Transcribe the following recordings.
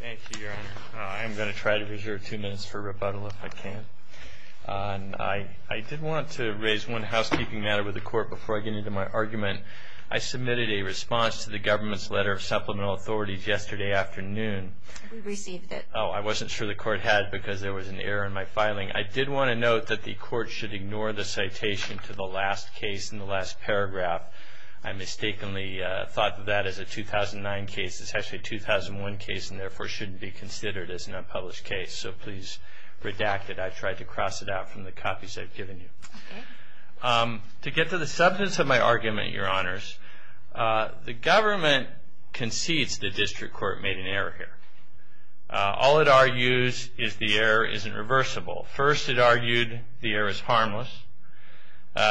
Thank you, Your Honor. I am going to try to reserve two minutes for rebuttal if I can. I did want to raise one housekeeping matter with the Court before I get into my argument. I submitted a response to the government's letter of supplemental authorities yesterday afternoon. We received it. Oh, I wasn't sure the Court had because there was an error in my filing. I did want to note that the Court should ignore the citation to the last case in the last paragraph. I mistakenly thought of that as a 2009 case. It's actually a 2001 case and therefore shouldn't be considered as an unpublished case. So please redact it. I tried to cross it out from the copies I've given you. To get to the substance of my argument, Your Honors, the government concedes the District Court made an error here. All it argues is the error isn't reversible. First, it argued the error is harmless.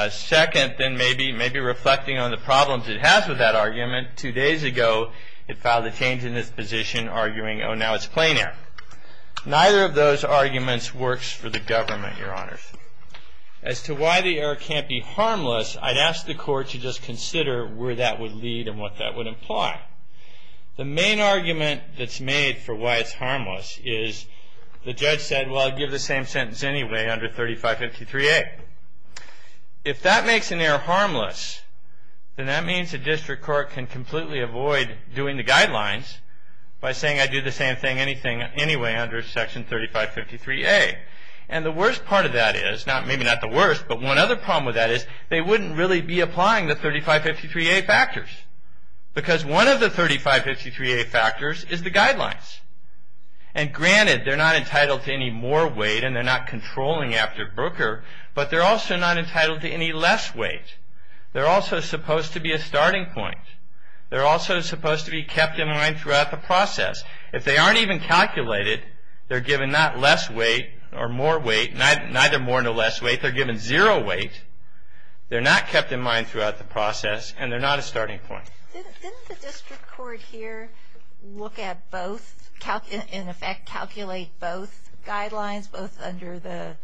Second, then maybe reflecting on the problems it has with that argument, two days ago it filed a change in its position arguing, oh, now it's plain error. Neither of those arguments works for the government, Your Honors. As to why the error can't be harmless, I'd ask the Court to just consider where that would lead and what that would imply. The main argument that's made for why it's harmless is the judge said, well, I'll give the same sentence anyway under 3553A. If that makes an error harmless, then that means the District Court can completely avoid doing the guidelines by saying I'd do the same thing anyway under section 3553A. And the worst part of that is, maybe not the worst, but one other problem with that is they wouldn't really be applying the 3553A factors. Because one of the 3553A factors is the guidelines. And granted, they're not entitled to any more weight and they're not controlling after Brooker, but they're also not entitled to any less weight. They're also supposed to be a starting point. They're also supposed to be kept in mind throughout the process. If they aren't even calculated, they're given not less weight or more weight, neither more nor less weight, they're given zero weight. They're not kept in mind throughout the process and they're not a starting point. Didn't the District Court here look at both, in effect calculate both guidelines, both under the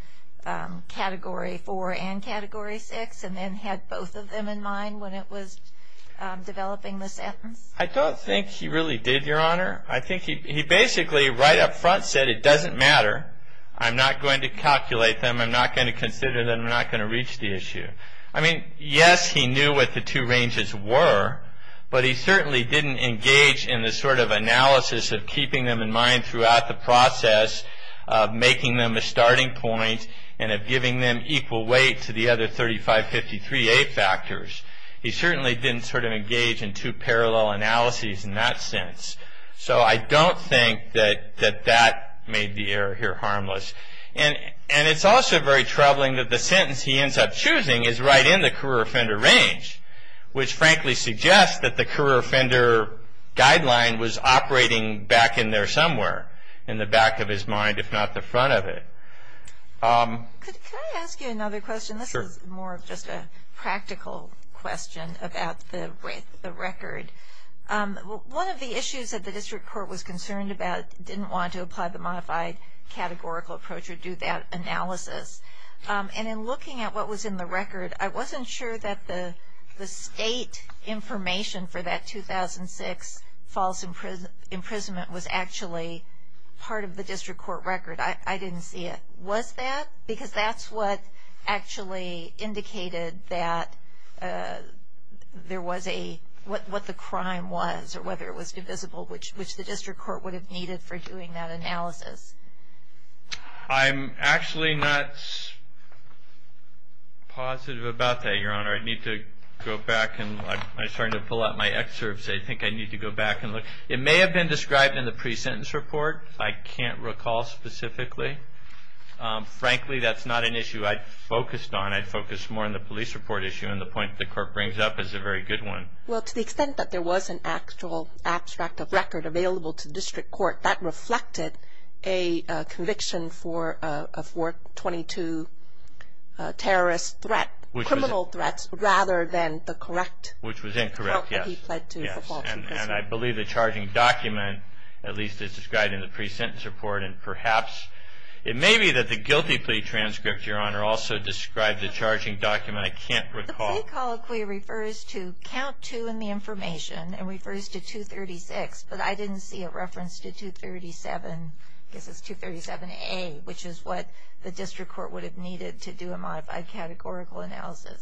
Category 4 and Category 6, and then had both of them in mind when it was developing the sentence? I don't think he really did, Your Honor. I think he basically right up front said it doesn't matter. I'm not going to calculate them. I'm not going to consider them. I'm not going to reach the issue. I mean, yes, he knew what the two ranges were, but he certainly didn't engage in the sort of analysis of keeping them in mind throughout the process, of making them a starting point, and of giving them equal weight to the other 3553A factors. He certainly didn't sort of engage in two parallel analyses in that sense. So I don't think that that made the error here harmless. And it's also very troubling that the sentence he ends up choosing is right in the career offender range, which frankly suggests that the career offender guideline was operating back in there somewhere, in the back of his mind, if not the front of it. Can I ask you another question? Sure. This is more of just a practical question about the record. One of the issues that the District Court was concerned about, and didn't want to apply the modified categorical approach or do that analysis, and in looking at what was in the record, I wasn't sure that the state information for that 2006 false imprisonment was actually part of the District Court record. I didn't see it. Was that? Because that's what actually indicated that there was a, what the crime was, or whether it was divisible, which the District Court would have needed for doing that analysis. I'm actually not positive about that, Your Honor. I need to go back and I'm starting to pull out my excerpts. I think I need to go back and look. It may have been described in the pre-sentence report. I can't recall specifically. Frankly, that's not an issue I'd focused on. I'd focus more on the police report issue, and the point the Court brings up is a very good one. Well, to the extent that there was an actual abstract of record available to the District Court, that reflected a conviction for a 422 terrorist threat, criminal threats, rather than the correct help that he pled to for false imprisonment. Which was incorrect, yes. And I believe the charging document at least is described in the pre-sentence report, and perhaps it may be that the guilty plea transcript, Your Honor, also described the charging document. I can't recall. The plea colloquy refers to count 2 in the information and refers to 236, but I didn't see a reference to 237A, which is what the District Court would have needed to do a modified categorical analysis.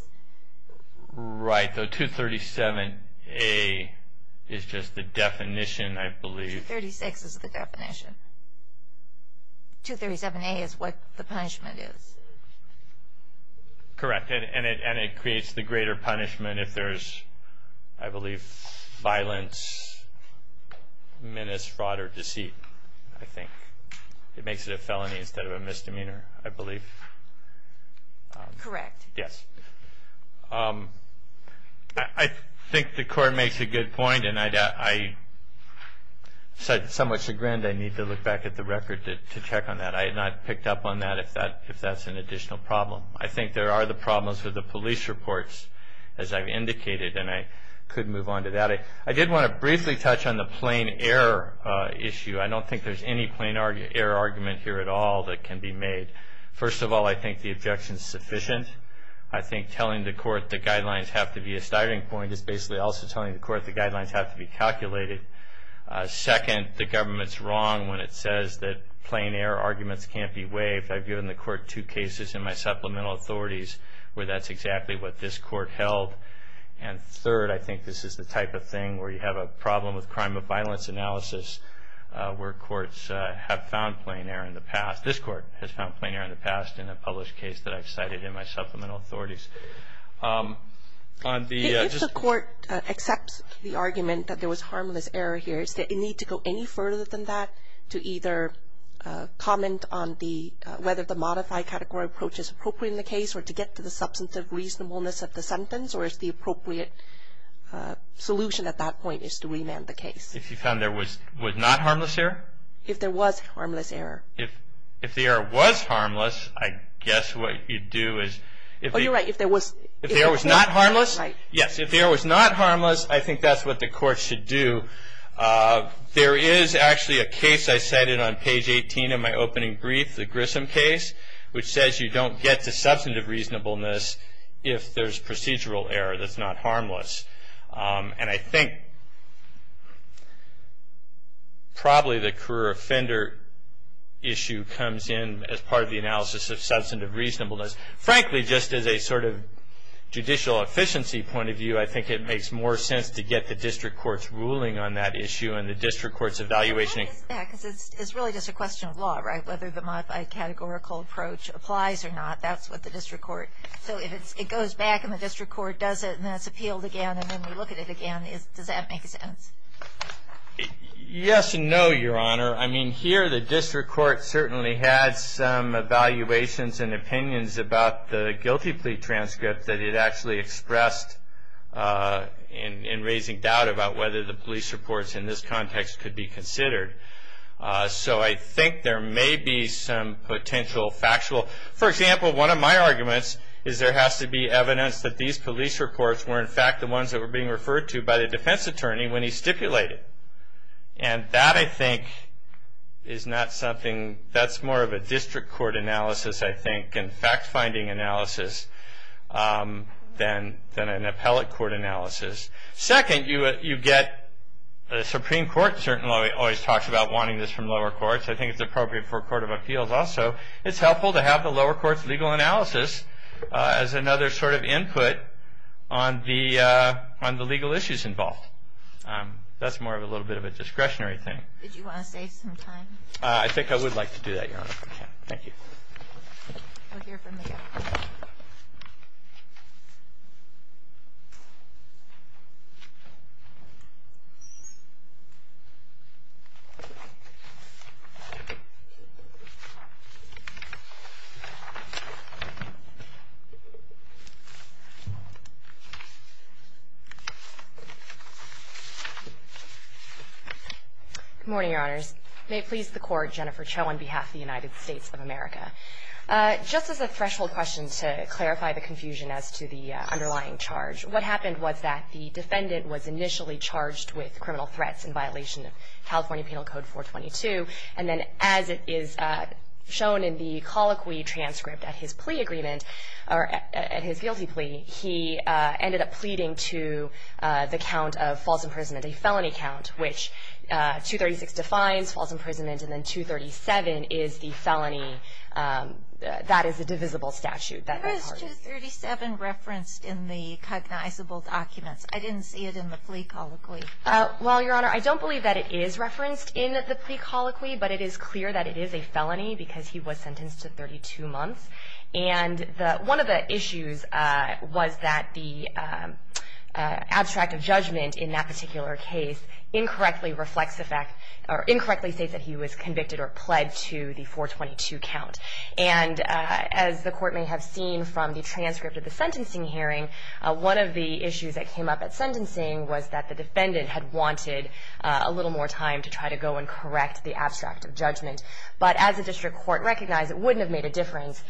Right. So 237A is just the definition, I believe. 236 is the definition. 237A is what the punishment is. Correct. And it creates the greater punishment if there's, I believe, violence, menace, fraud, or deceit, I think. It makes it a felony instead of a misdemeanor, I believe. Correct. Yes. I think the Court makes a good point, and I'm somewhat sagred I need to look back at the record to check on that. I had not picked up on that if that's an additional problem. I think there are the problems with the police reports, as I've indicated, and I could move on to that. I did want to briefly touch on the plain error issue. I don't think there's any plain error argument here at all that can be made. First of all, I think the objection is sufficient. I think telling the Court the guidelines have to be a starting point is basically also telling the Court the guidelines have to be calculated. Second, the government's wrong when it says that plain error arguments can't be waived. I've given the Court two cases in my supplemental authorities where that's exactly what this Court held. And third, I think this is the type of thing where you have a problem with crime of violence analysis, where courts have found plain error in the past. This Court has found plain error in the past in a published case that I've cited in my supplemental authorities. If the Court accepts the argument that there was harmless error here, is there a need to go any further than that to either comment on whether the modified category approach is appropriate in the case or to get to the substantive reasonableness of the sentence, or is the appropriate solution at that point is to remand the case? If you found there was not harmless error? If there was harmless error. If the error was harmless, I guess what you'd do is... Oh, you're right. If there was... If the error was not harmless? Right. There is actually a case I cited on page 18 in my opening brief, the Grissom case, which says you don't get to substantive reasonableness if there's procedural error that's not harmless. And I think probably the career offender issue comes in as part of the analysis of substantive reasonableness. Frankly, just as a sort of judicial efficiency point of view, I think it makes more sense to get the district court's ruling on that issue and the district court's evaluation... It's really just a question of law, right? Whether the modified categorical approach applies or not, that's what the district court... So if it goes back and the district court does it and that's appealed again and then we look at it again, does that make sense? Yes and no, Your Honor. I mean, here the district court certainly had some evaluations and opinions about the guilty plea transcript that it actually expressed in raising doubt about whether the police reports in this context could be considered. So I think there may be some potential factual... For example, one of my arguments is there has to be evidence that these police reports were, in fact, the ones that were being referred to by the defense attorney when he stipulated. And that, I think, is not something... That's more of a district court analysis, I think, and fact-finding analysis than an appellate court analysis. Second, you get... The Supreme Court certainly always talks about wanting this from lower courts. I think it's appropriate for a court of appeals also. It's helpful to have the lower court's legal analysis as another sort of input on the legal issues involved. That's more of a little bit of a discretionary thing. Did you want to save some time? I think I would like to do that, Your Honor. Thank you. We'll hear from you. Good morning, Your Honors. May it please the Court, Jennifer Cho on behalf of the United States of America. Just as a threshold question to clarify the confusion as to the underlying charge, what happened was that the defendant was initially charged with criminal threats in violation of California Penal Code 422, and then as it is shown in the colloquy transcript at his plea agreement, or at his guilty plea, he ended up pleading to the count of false imprisonment, a felony count, which 236 defines false imprisonment, and then 237 is the felony. That is a divisible statute. Where is 237 referenced in the cognizable documents? I didn't see it in the plea colloquy. Well, Your Honor, I don't believe that it is referenced in the plea colloquy, but it is clear that it is a felony because he was sentenced to 32 months. And one of the issues was that the abstract of judgment in that particular case incorrectly reflects the fact or incorrectly states that he was convicted or pled to the 422 count. And as the Court may have seen from the transcript of the sentencing hearing, one of the issues that came up at sentencing was that the defendant had wanted a little more time to try to go and correct the abstract of judgment. But as the District Court recognized, it wouldn't have made a difference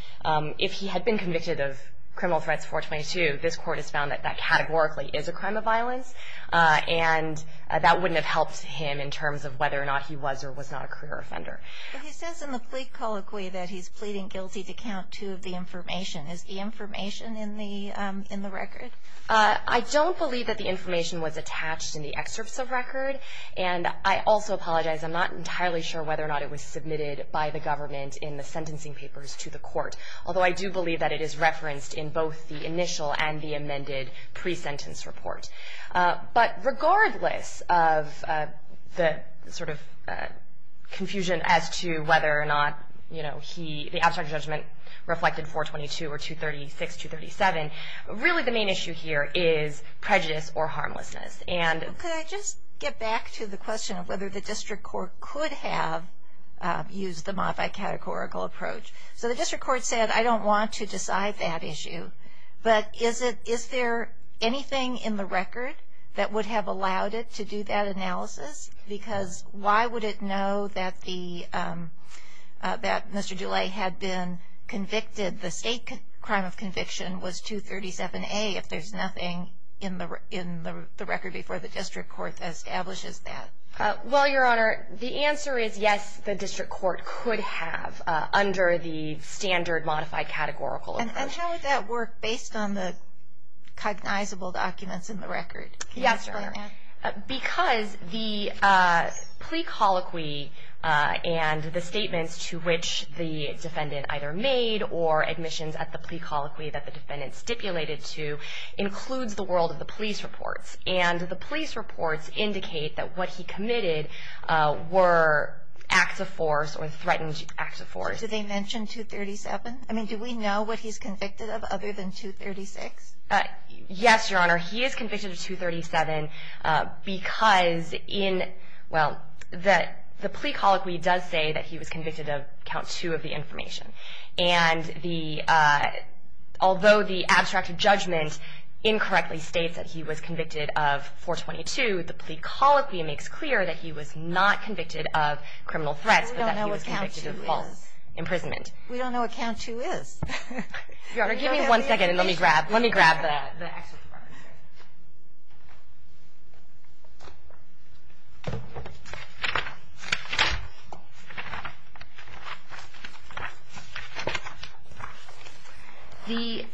if he had been convicted of criminal threats 422. This Court has found that that categorically is a crime of violence, and that wouldn't have helped him in terms of whether or not he was or was not a career offender. But he says in the plea colloquy that he's pleading guilty to count two of the information. Is the information in the record? I don't believe that the information was attached in the excerpts of record. And I also apologize. I'm not entirely sure whether or not it was submitted by the government in the sentencing papers to the Court, although I do believe that it is referenced in both the initial and the amended pre-sentence report. But regardless of the sort of confusion as to whether or not, you know, the abstract of judgment reflected 422 or 236, 237, really the main issue here is prejudice or harmlessness. Could I just get back to the question of whether the District Court could have used the modified categorical approach? So the District Court said, I don't want to decide that issue, but is there anything in the record that would have allowed it to do that analysis? Because why would it know that Mr. Dulay had been convicted, the state crime of conviction was 237A, if there's nothing in the record before the District Court establishes that? Well, Your Honor, the answer is yes, the District Court could have under the standard modified categorical approach. And how would that work based on the cognizable documents in the record? Yes, Your Honor. Because the plea colloquy and the statements to which the defendant either made or admissions at the plea colloquy that the defendant stipulated to, includes the world of the police reports. And the police reports indicate that what he committed were acts of force or threatened acts of force. Did they mention 237? I mean, do we know what he's convicted of other than 236? Yes, Your Honor. He is convicted of 237 because in, well, the plea colloquy does say that he was convicted of count two of the information. And although the abstract judgment incorrectly states that he was convicted of 422, the plea colloquy makes clear that he was not convicted of criminal threats, but that he was convicted of false imprisonment. We don't know what count two is. Your Honor, give me one second and let me grab, let me grab that. The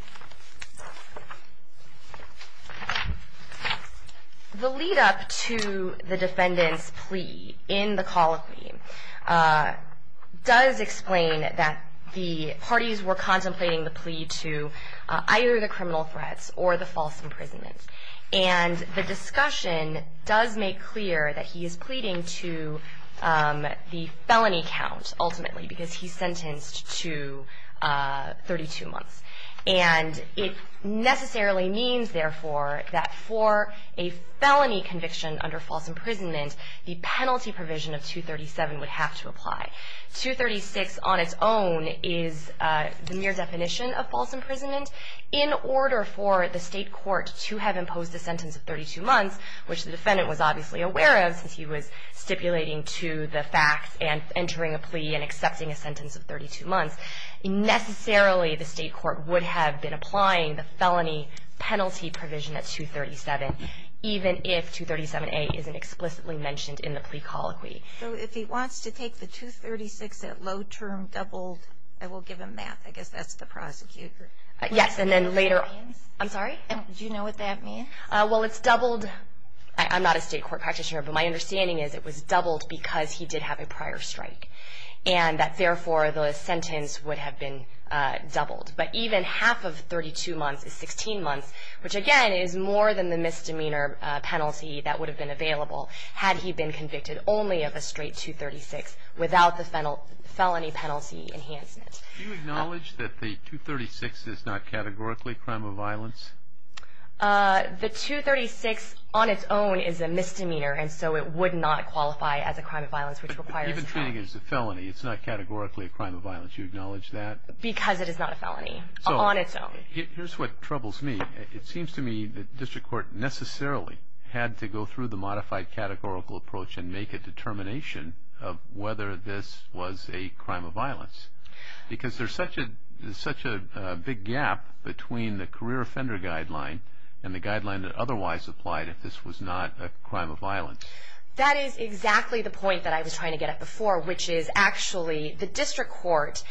lead up to the defendant's plea in the colloquy does explain that the parties were contemplating the plea to either the criminal threats or the false imprisonment. And the discussion does make clear that he is pleading to the felony count, ultimately, because he's sentenced to 32 months. And it necessarily means, therefore, that for a felony conviction under false imprisonment, the penalty provision of 237 would have to apply. 236 on its own is the mere definition of false imprisonment. In order for the state court to have imposed a sentence of 32 months, which the defendant was obviously aware of since he was stipulating to the facts and entering a plea and accepting a sentence of 32 months, necessarily the state court would have been applying the felony penalty provision at 237, even if 237A isn't explicitly mentioned in the plea colloquy. So if he wants to take the 236 at low term doubled, I will give him that. I guess that's the prosecutor. Yes, and then later. I'm sorry? Do you know what that means? Well, it's doubled. I'm not a state court practitioner, but my understanding is it was doubled because he did have a prior strike. And that, therefore, the sentence would have been doubled. But even half of 32 months is 16 months, which, again, is more than the misdemeanor penalty that would have been available had he been convicted only of a straight 236 without the felony penalty enhancement. Do you acknowledge that the 236 is not categorically a crime of violence? The 236 on its own is a misdemeanor, and so it would not qualify as a crime of violence, which requires a felony. Even treating it as a felony, it's not categorically a crime of violence. Do you acknowledge that? Because it is not a felony on its own. Here's what troubles me. It seems to me that district court necessarily had to go through the modified categorical approach and make a determination of whether this was a crime of violence because there's such a big gap between the career offender guideline and the guideline that otherwise applied if this was not a crime of violence. That is exactly the point that I was trying to get at before, which is actually the district court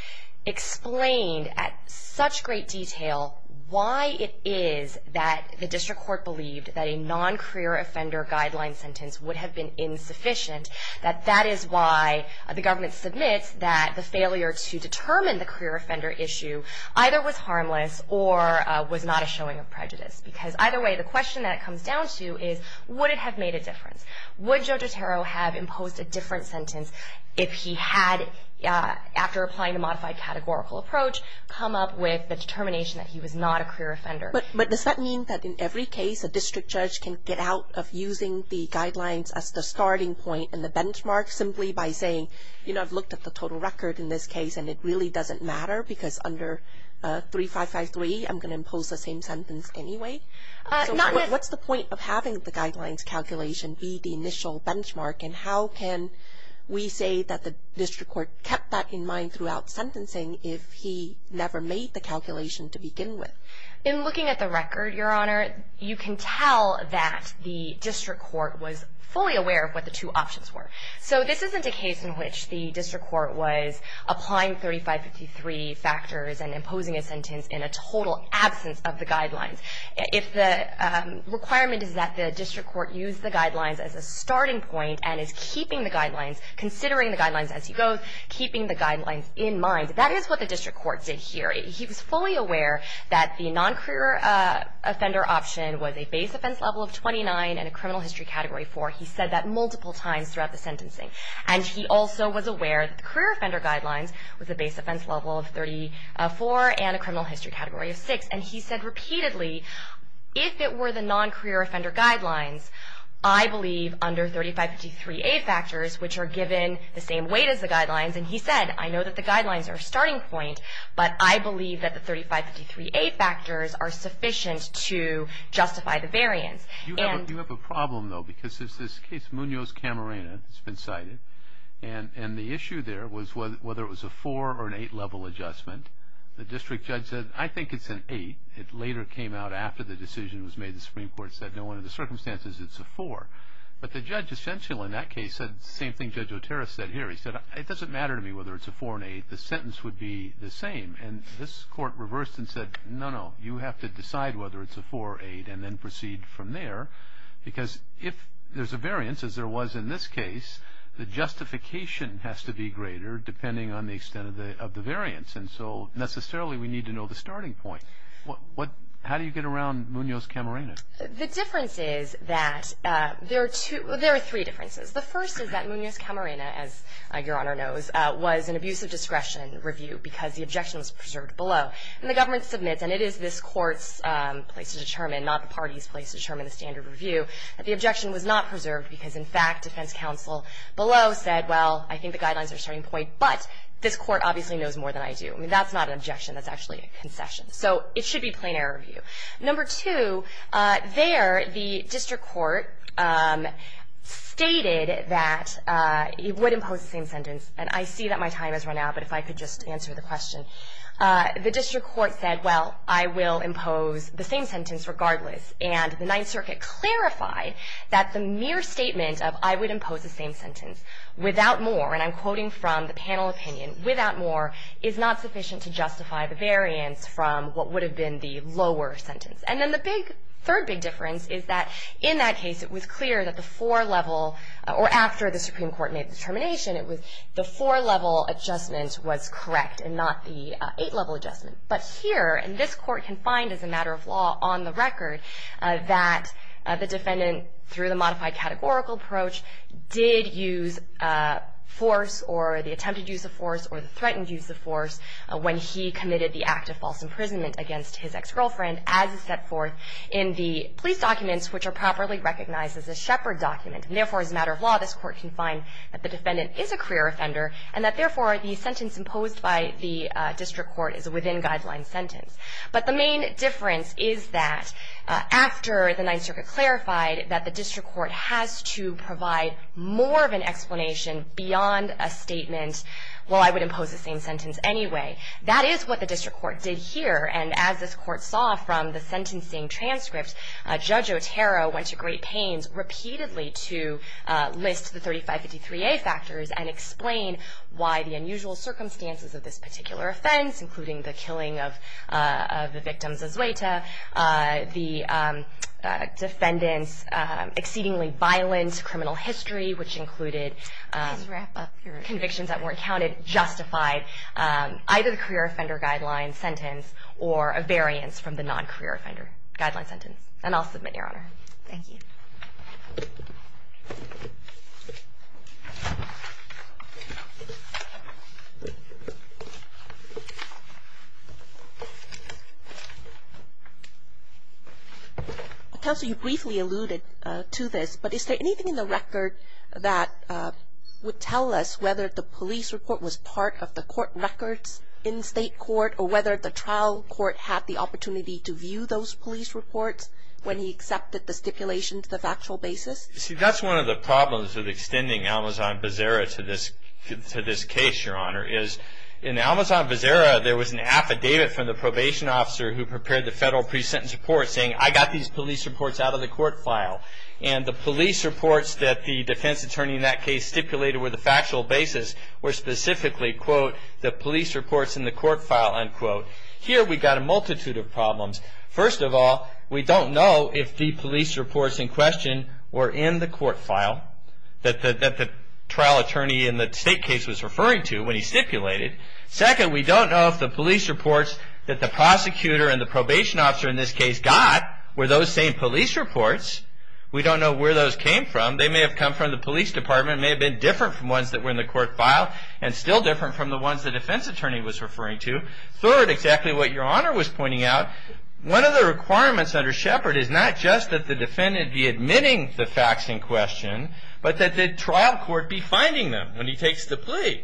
explained at such great detail why it is that the district court believed that a non-career offender guideline sentence would have been insufficient, that that is why the government submits that the failure to determine the career offender issue either was harmless or was not a showing of prejudice. Because either way, the question that it comes down to is would it have made a difference? Would Judge Otero have imposed a different sentence if he had, after applying a modified categorical approach, come up with the determination that he was not a career offender? But does that mean that in every case a district judge can get out of using the guidelines as the starting point and the benchmark simply by saying, you know, I've looked at the total record in this case and it really doesn't matter because under 3553 I'm going to impose the same sentence anyway? What's the point of having the guidelines calculation be the initial benchmark and how can we say that the district court kept that in mind throughout sentencing if he never made the calculation to begin with? In looking at the record, Your Honor, you can tell that the district court was fully aware of what the two options were. So this isn't a case in which the district court was applying 3553 factors and imposing a sentence in a total absence of the guidelines. If the requirement is that the district court use the guidelines as a starting point and is keeping the guidelines, considering the guidelines as he goes, keeping the guidelines in mind, that is what the district court did here. He was fully aware that the non-career offender option was a base offense level of 29 and a criminal history category of 4. He said that multiple times throughout the sentencing. And he also was aware that the career offender guidelines was a base offense level of 34 and a criminal history category of 6. And he said repeatedly, if it were the non-career offender guidelines, I believe under 3553A factors, which are given the same weight as the guidelines, and he said, I know that the guidelines are a starting point, but I believe that the 3553A factors are sufficient to justify the variance. You have a problem, though, because there's this case, Munoz-Camarena, it's been cited, and the issue there was whether it was a 4 or an 8 level adjustment. The district judge said, I think it's an 8. It later came out after the decision was made. The Supreme Court said, no, under the circumstances, it's a 4. But the judge essentially in that case said the same thing Judge Otero said here. He said, it doesn't matter to me whether it's a 4 or an 8. The sentence would be the same. And this court reversed and said, no, no, you have to decide whether it's a 4 or 8 and then proceed from there because if there's a variance, as there was in this case, the justification has to be greater depending on the extent of the variance. And so necessarily we need to know the starting point. How do you get around Munoz-Camarena? The difference is that there are three differences. The first is that Munoz-Camarena, as Your Honor knows, was an abuse of discretion review because the objection was preserved below. And the government submits, and it is this court's place to determine, not the party's place to determine the standard review, that the objection was not preserved because, in fact, defense counsel below said, well, I think the guidelines are a starting point, but this court obviously knows more than I do. I mean, that's not an objection. That's actually a concession. So it should be plain error review. Number two, there the district court stated that it would impose the same sentence. And I see that my time has run out, but if I could just answer the question. The district court said, well, I will impose the same sentence regardless. And the Ninth Circuit clarified that the mere statement of, I would impose the same sentence without more, and I'm quoting from the panel opinion, without more is not sufficient to justify the variance from what would have been the lower sentence. And then the third big difference is that in that case it was clear that the four-level or after the Supreme Court made the determination, it was the four-level adjustment was correct and not the eight-level adjustment. But here, and this court can find as a matter of law on the record, that the defendant, through the modified categorical approach, did use force or the attempted use of force or the threatened use of force when he committed the act of false imprisonment against his ex-girlfriend as set forth in the police documents, which are properly recognized as a shepherd document. And therefore, as a matter of law, this court can find that the defendant is a career offender and that, therefore, the sentence imposed by the district court is a within-guideline sentence. But the main difference is that after the Ninth Circuit clarified that the district court has to provide more of an explanation beyond a statement, well, I would impose the same sentence anyway. That is what the district court did here, and as this court saw from the sentencing transcript, Judge Otero went to great pains repeatedly to list the 3553A factors and explain why the unusual circumstances of this particular offense, including the killing of the victim's azueta, the defendant's exceedingly violent criminal history, which included convictions that weren't counted, justified either the career offender guideline sentence or a variance from the non-career offender guideline sentence. And I'll submit, Your Honor. Thank you. Counsel, you briefly alluded to this, but is there anything in the record that would tell us whether the police report was part of the court records in state court or whether the trial court had the opportunity to view those police reports when he accepted the stipulation to the factual basis? See, that's one of the problems of extending Almazan-Vazera to this case, Your Honor, is in Almazan-Vazera there was an affidavit from the probation officer who prepared the federal pre-sentence report saying, I got these police reports out of the court file, and the police reports that the defense attorney in that case stipulated were the factual basis were specifically, quote, the police reports in the court file, unquote. Here we've got a multitude of problems. First of all, we don't know if the police reports in question were in the court file that the trial attorney in the state case was referring to when he stipulated. Second, we don't know if the police reports that the prosecutor and the probation officer in this case got were those same police reports. We don't know where those came from. They may have come from the police department, may have been different from ones that were in the court file and still different from the ones the defense attorney was referring to. Third, exactly what Your Honor was pointing out, one of the requirements under Shepard is not just that the defendant be admitting the facts in question, but that the trial court be finding them when he takes the plea.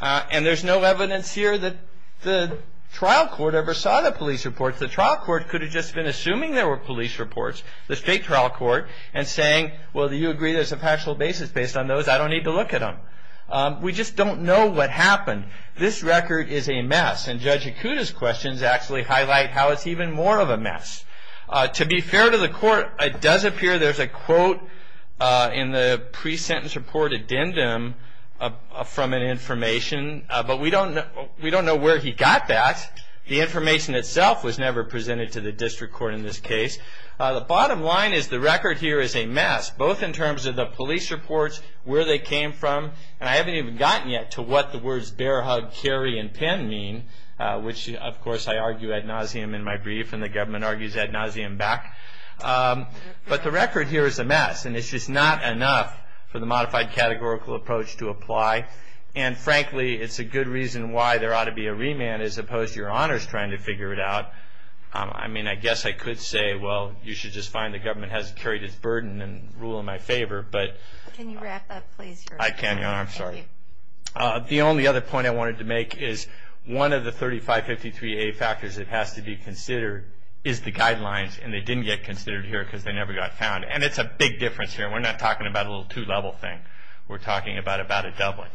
And there's no evidence here that the trial court ever saw the police reports. The trial court could have just been assuming there were police reports, the state trial court, and saying, well, do you agree there's a factual basis based on those? I don't need to look at them. We just don't know what happened. This record is a mess, and Judge Ikuda's questions actually highlight how it's even more of a mess. To be fair to the court, it does appear there's a quote in the pre-sentence report addendum from an information, but we don't know where he got that. The information itself was never presented to the district court in this case. The bottom line is the record here is a mess, both in terms of the police reports, where they came from, and I haven't even gotten yet to what the words bear hug, carry, and pin mean, which, of course, I argue ad nauseam in my brief, and the government argues ad nauseam back. But the record here is a mess, and it's just not enough for the modified categorical approach to apply. And, frankly, it's a good reason why there ought to be a remand as opposed to your honors trying to figure it out. I mean, I guess I could say, well, you should just find the government has carried its burden and rule in my favor. Can you wrap up, please? I can. I'm sorry. The only other point I wanted to make is one of the 3553A factors that has to be considered is the guidelines, and they didn't get considered here because they never got found. And it's a big difference here. We're not talking about a little two-level thing. We're talking about a doubling.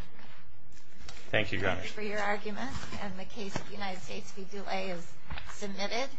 Thank you, Governor. Thank you for your argument. And the case of the United States v. Dual A is submitted.